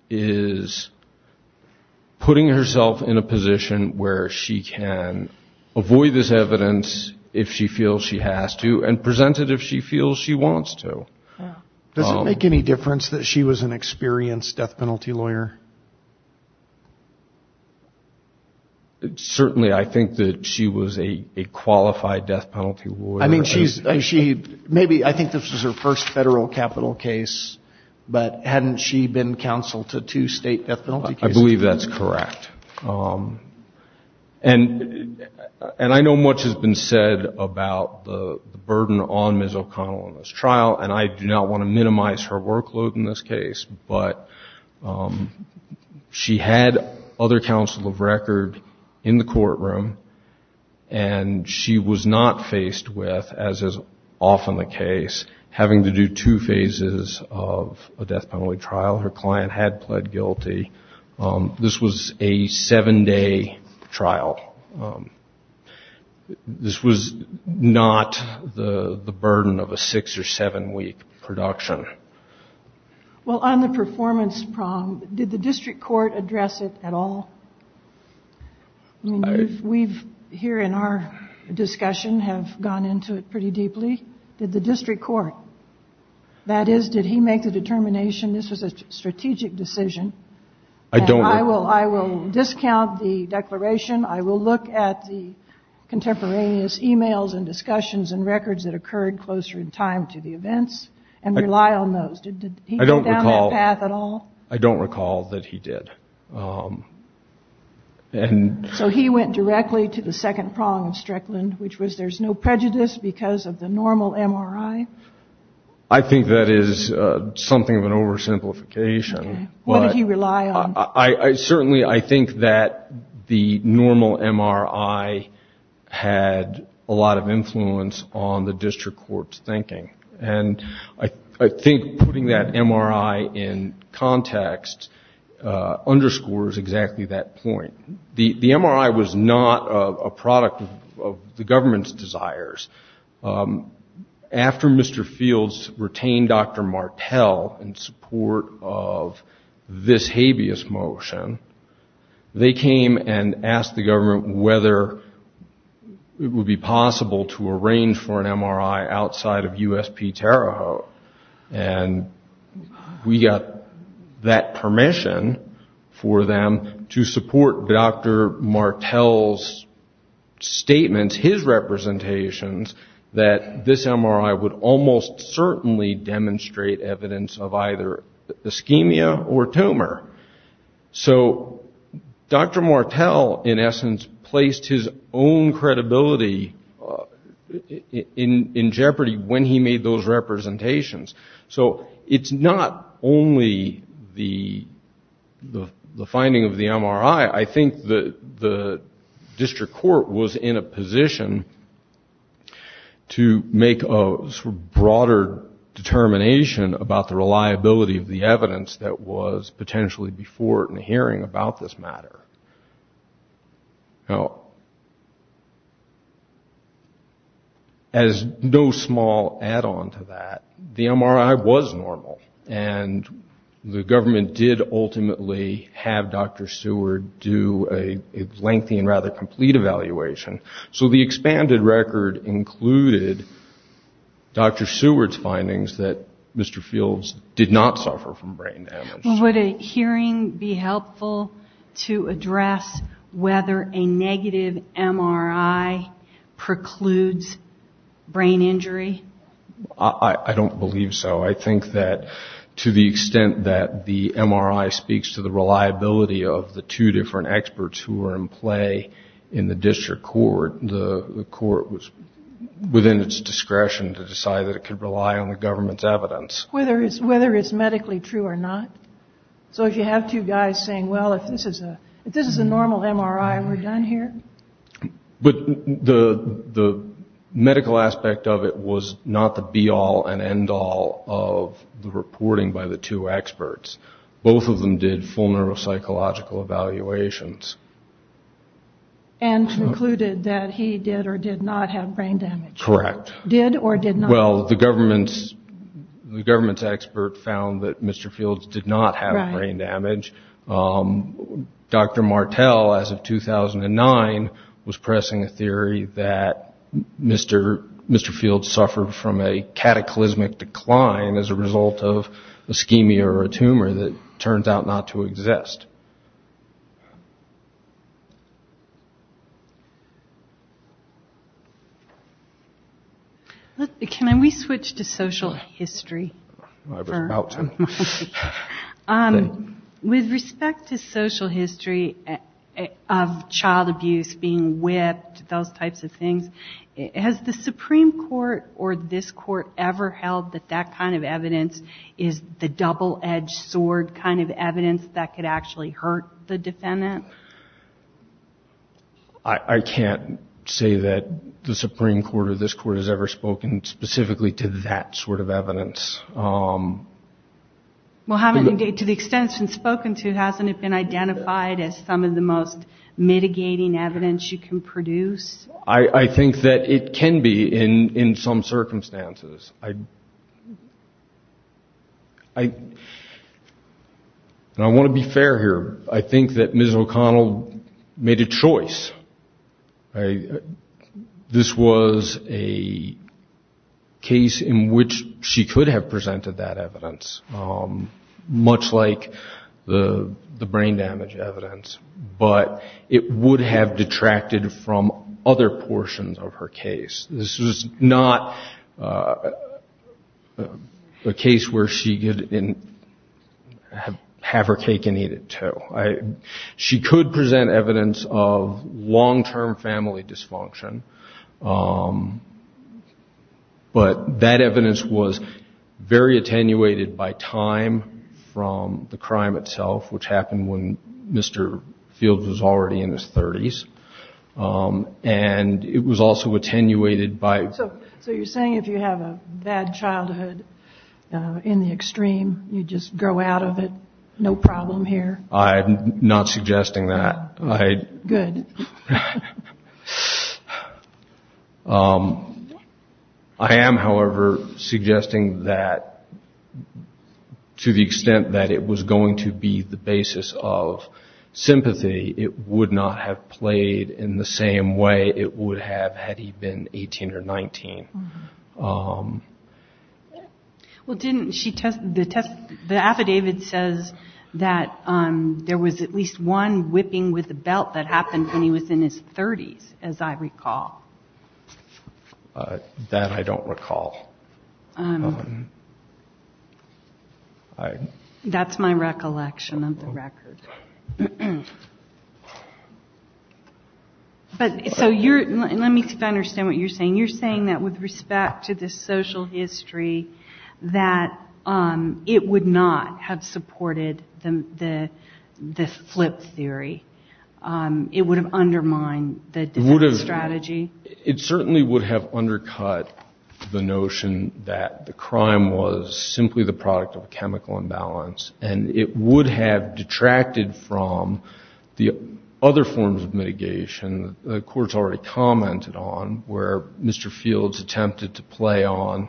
is putting herself in a position where she can avoid this evidence if she wants to, if she feels she has to, and present it if she feels she wants to. Does it make any difference that she was an experienced death penalty lawyer? Certainly, I think that she was a qualified death penalty lawyer. Maybe, I think this was her first federal capital case, but hadn't she been counsel to two state death penalty cases? I believe that's correct. And I know much has been said about the burden on Ms. O'Connell in this trial, and I do not want to minimize her workload in this case, but she had other counsel of record in the courtroom, and she was not faced with, as is often the case, having to do two phases of a death penalty trial. Her client had pled guilty. This was a seven-day trial. This was not the burden of a six- or seven-week production. Well, on the performance problem, did the district court address it at all? I mean, we here in our discussion have gone into it pretty deeply. Did the district court, that is, did he make the determination, this was a strategic decision, and I will discount the declaration, I will look at the contemporaneous emails and discussions and records that occurred closer in time to the events, and rely on those. Did he go down that path at all? I don't recall that he did. So he went directly to the second prong of Strickland, which was there's no prejudice because of the normal MRI? I think that is something of an oversimplification. What did he rely on? Certainly, I think that the normal MRI had a lot of influence on the district court's thinking, and I think putting that MRI in context underscores exactly that point. The MRI was not a product of the government's desires. After Mr. Fields retained Dr. Martel in support of this habeas motion, they came and asked the government whether it would be possible to arrange for an MRI outside of U.S. P. Terre Haute, and we got that permission for them to support Dr. Martel's statements, his representations, that this MRI would almost certainly demonstrate evidence of either ischemia or tumor. So Dr. Martel, in essence, placed his own credibility in jeopardy when he made those statements. So it's not only the finding of the MRI. I think the district court was in a position to make a broader determination about the reliability of the evidence that was potentially before it in hearing about this matter. Now, as no small add-on to that, the MRI was normal, and the government did ultimately have Dr. Seward do a lengthy and rather complete evaluation. So the expanded record included Dr. Seward's findings that Mr. Fields did not suffer from brain damage. Would a hearing be helpful to address whether a negative MRI precludes brain injury? I don't believe so. I think that to the extent that the MRI speaks to the reliability of the two different experts who were in play in the district court, the court was within its discretion to decide that it could rely on the government's evidence. Whether it's medically true or not? So if you have two guys saying, well, if this is a normal MRI, we're done here? But the medical aspect of it was not the be-all and end-all of the reporting by the two experts. Both of them did full neuropsychological evaluations. And concluded that he did or did not have brain damage. Correct. Well, the government's expert found that Mr. Fields did not have brain damage. Dr. Martel, as of 2009, was pressing a theory that Mr. Fields suffered from a cataclysmic decline as a result of ischemia or a tumor that turns out not to exist. Can we switch to social history? With respect to social history of child abuse, being whipped, those types of things, has the Supreme Court or this Court ever held that that kind of evidence is the double-edged sword kind of evidence that could actually hurt the defendant? I can't say that the Supreme Court or this Court has ever spoken specifically to that sort of evidence. Well, to the extent it's been spoken to, hasn't it been identified as some of the most mitigating evidence you can produce? I think that it can be in some circumstances. I want to be fair here. I think that Ms. O'Connell made a choice. This was a case in which she could have presented that evidence, much like the brain damage evidence. But it would have detracted from other portions of her case. This was not a case where she could have her cake and eat it, too. She could present evidence of long-term family dysfunction, but that evidence was very attenuated by time from the crime itself, which happened when Mr. Fields was already in his 30s. And it was also attenuated by... So you're saying if you have a bad childhood, in the extreme, you just grow out of it, no problem here? I'm not suggesting that. I am, however, suggesting that to the extent that it was going to be the basis of sympathy, it would not have played a role in her case. It would not have played in the same way it would have had he been 18 or 19. The affidavit says that there was at least one whipping with a belt that happened when he was in his 30s, as I recall. That I don't recall. That's my recollection of the record. So let me understand what you're saying. You're saying that with respect to the social history, that it would not have supported the flip theory? It would have undermined the strategy? It certainly would have undercut the notion that the crime was simply the product of a chemical imbalance. And it would have detracted from the other forms of mitigation that the court's already commented on, where Mr. Fields attempted to play on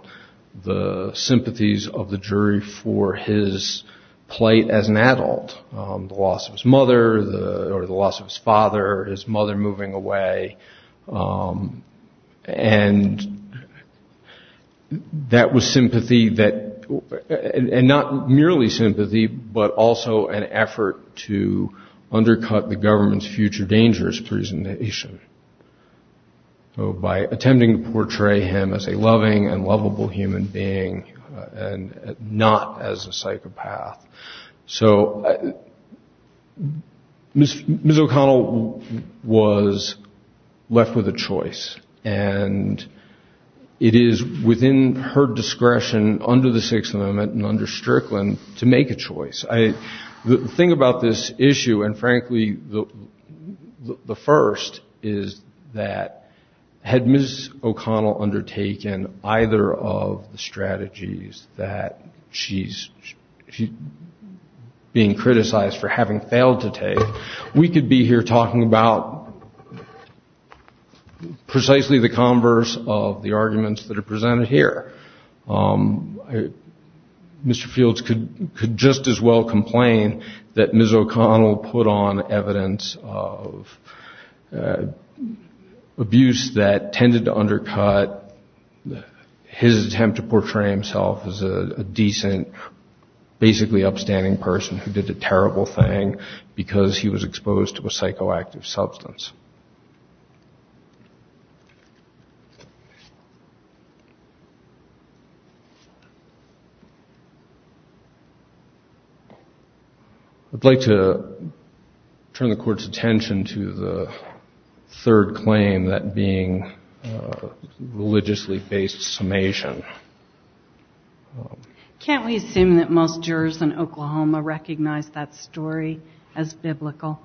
the sympathies of the jury for his plight as an adult. The loss of his mother, or the loss of his father, his mother moving away. And that was sympathy that... And not merely sympathy, but also an effort to undercut the government's future dangerous presentation. By attempting to portray him as a loving and lovable human being, and not as a psychopath. So Ms. O'Connell was left with a choice. And it is within her discretion, under the Sixth Amendment and under Strickland, to make a choice. The thing about this issue, and frankly, the first, is that had Ms. O'Connell undertaken either of the strategies that she's being criticized for having failed to take, we could be here talking about precisely what Ms. O'Connell did, precisely the converse of the arguments that are presented here. Mr. Fields could just as well complain that Ms. O'Connell put on evidence of abuse that tended to undercut his attempt to portray himself as a decent, basically upstanding person who did a terrible thing, because he was exposed to a psychoactive substance. I'd like to turn the Court's attention to the third claim, that being religiously-based summation. Can't we assume that most jurors in Oklahoma recognize that story as biblical?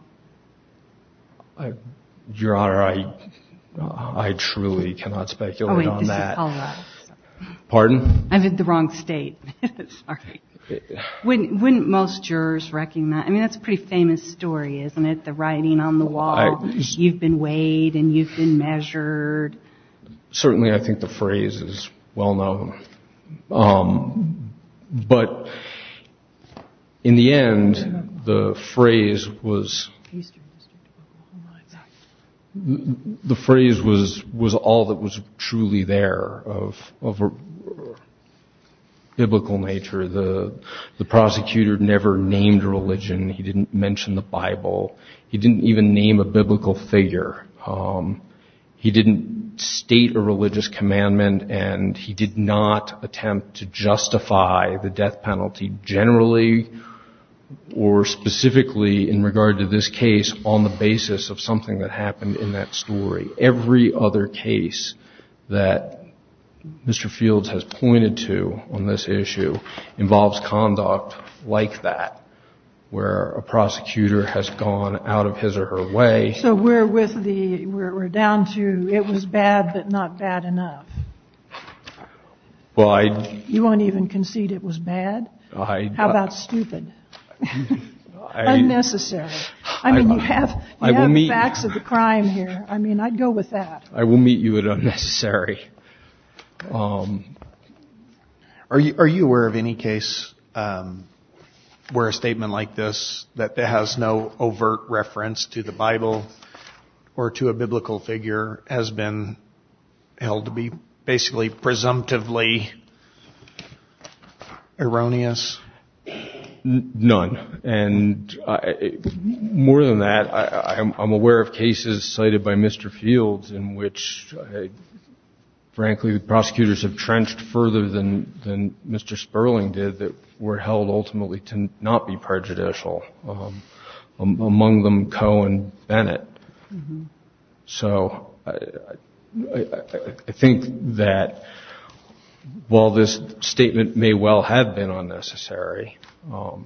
Your Honor, I truly cannot speculate on that. Pardon? I'm in the wrong state. Wouldn't most jurors recognize, I mean, that's a pretty famous story, isn't it? The writing on the wall, you've been weighed and you've been measured. Certainly I think the phrase is well-known. But in the end, the phrase was all that was truly there of a biblical story. The prosecutor never named religion. He didn't mention the Bible. He didn't even name a biblical figure. He didn't state a religious commandment, and he did not attempt to justify the death penalty generally, or specifically in regard to this case, on the basis of something that happened in that story. So I think the fact that the prosecution has gone out of its way to do what it was supposed to do involves conduct like that, where a prosecutor has gone out of his or her way. So we're down to it was bad, but not bad enough. You won't even concede it was bad? How about stupid? Unnecessary. I mean, you have the facts of the crime here. I mean, I'd go with that. I will meet you at unnecessary. Are you aware of any case where a statement like this that has no overt reference to the Bible or to a biblical figure has been held to be basically presumptively erroneous? None. And more than that, I'm aware of cases cited by Mr. Fields in which, frankly, the prosecutors have trenched further than Mr. Sperling did that were held ultimately to not be prejudicial, among them Cohen and Bennett. So I think that while this statement may well have been unnecessary, I don't think it was.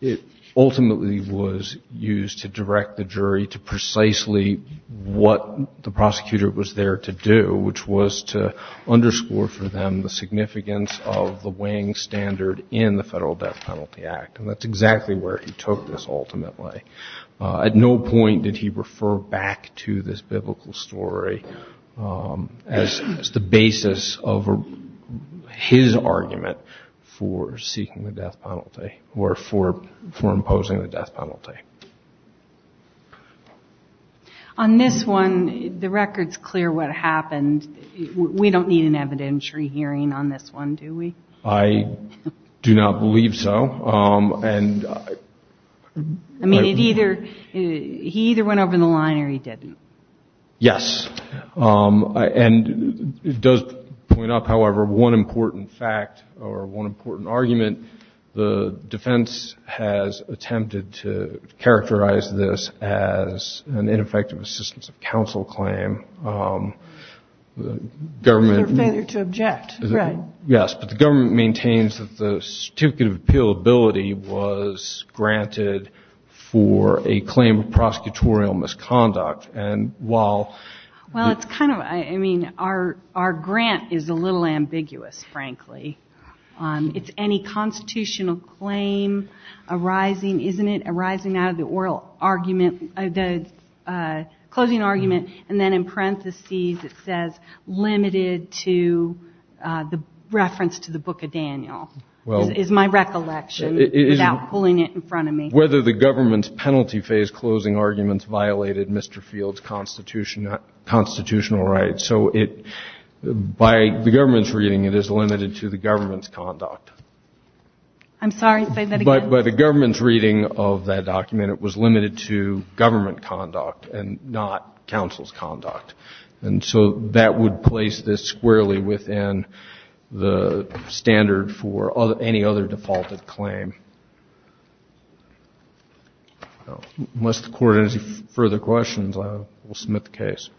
It ultimately was used to direct the jury to precisely what the prosecutor was there to do, which was to underscore for them the significance of the weighing standard in the Federal Death Penalty Act. And that's exactly where he took this ultimately. At no point did he refer back to this biblical story as the basis of his argument for seeking the death penalty. Or for imposing the death penalty. On this one, the record's clear what happened. We don't need an evidentiary hearing on this one, do we? I do not believe so. I mean, he either went over the line or he didn't. Yes. And it does point out, however, one important fact or one important argument. The defense has attempted to characterize this as an ineffective assistance of counsel claim. Government. Yes, but the government maintains that the certificate of appealability was granted for a claim of prosecutorial misconduct. Well, it's kind of, I mean, our grant is a little ambiguous, frankly. It's any constitutional claim arising, isn't it, arising out of the oral argument, the closing argument. And then in parentheses it says, limited to the reference to the Book of Daniel, is my recollection without pulling it in front of me. Whether the government's penalty phase closing arguments violated Mr. Field's constitutional rights. So by the government's reading, it is limited to the government's conduct. I'm sorry, say that again. By the government's reading of that document, it was limited to government conduct and not counsel's conduct. And so that would place this squarely within the standard for any other defaulted claim. Unless the Court has any further questions, I will submit the case.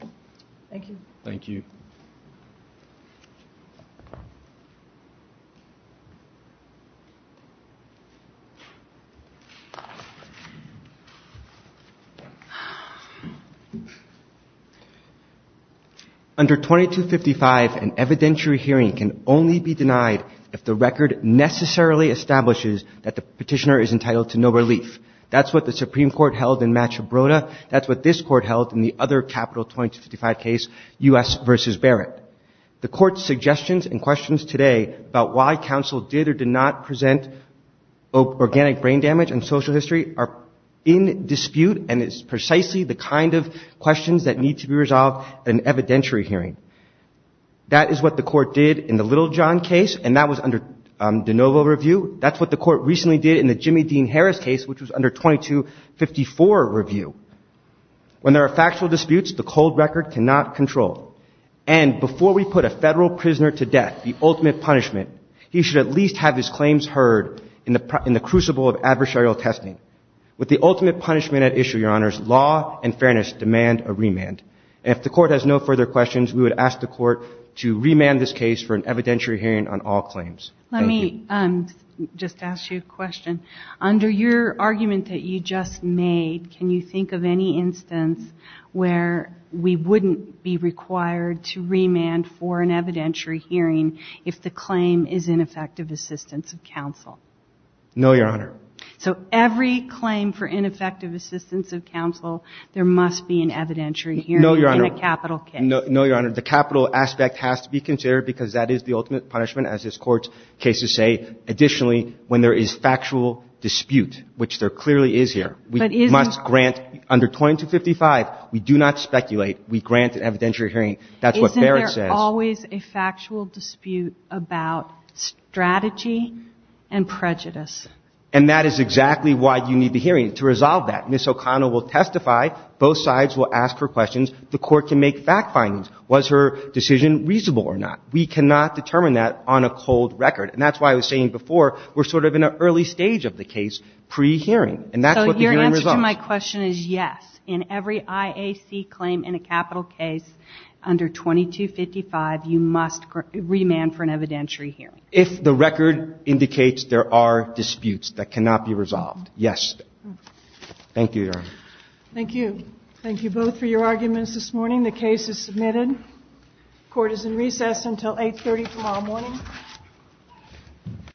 Thank you. Under 2255, an evidentiary hearing can only be denied if the record necessarily establishes that the petitioner is entitled to no relief. That's what the Supreme Court held in Machabrota. That's what this Court held in the other capital 2255 case, U.S. v. Barrett. The Court's suggestions and questions today about why counsel did or did not present organic brain damage in social history are in dispute, and it's precisely the kind of questions that need to be resolved at an evidentiary hearing. That is what the Court did in the Littlejohn case, and that was under de novo review. That's what the Court recently did in the Jimmy Dean Harris case, which was under 2254 review. When there are factual disputes, the cold record cannot control. And before we put a Federal prisoner to death, the ultimate punishment, he should at least have his claims heard in the crucible of adversarial testing. With the ultimate punishment at issue, Your Honors, law and fairness demand a remand. And if the Court has no further questions, we would ask the Court to remand this case for an evidentiary hearing on all claims. Let me just ask you a question. Under your argument that you just made, can you think of any instance where we wouldn't be required to remand for an evidentiary hearing if the claim is ineffective assistance of counsel? No, Your Honor. So every claim for ineffective assistance of counsel, there must be an evidentiary hearing in a capital case. Cases say, additionally, when there is factual dispute, which there clearly is here, we must grant under 2255. We do not speculate. We grant an evidentiary hearing. That's what Barrett says. Isn't there always a factual dispute about strategy and prejudice? And that is exactly why you need the hearing, to resolve that. Ms. O'Connell will testify. Both sides will ask her questions. The Court can make fact findings. Was her decision reasonable or not? We cannot determine that on a cold record. And that's why I was saying before, we're sort of in an early stage of the case, pre-hearing. And that's what the hearing resolves. So your answer to my question is yes. In every IAC claim in a capital case under 2255, you must remand for an evidentiary hearing. If the record indicates there are disputes that cannot be resolved, yes. Thank you, Your Honor. Thank you. Thank you both for your arguments this morning. The case is submitted. Court is in recess until 8.30 tomorrow morning.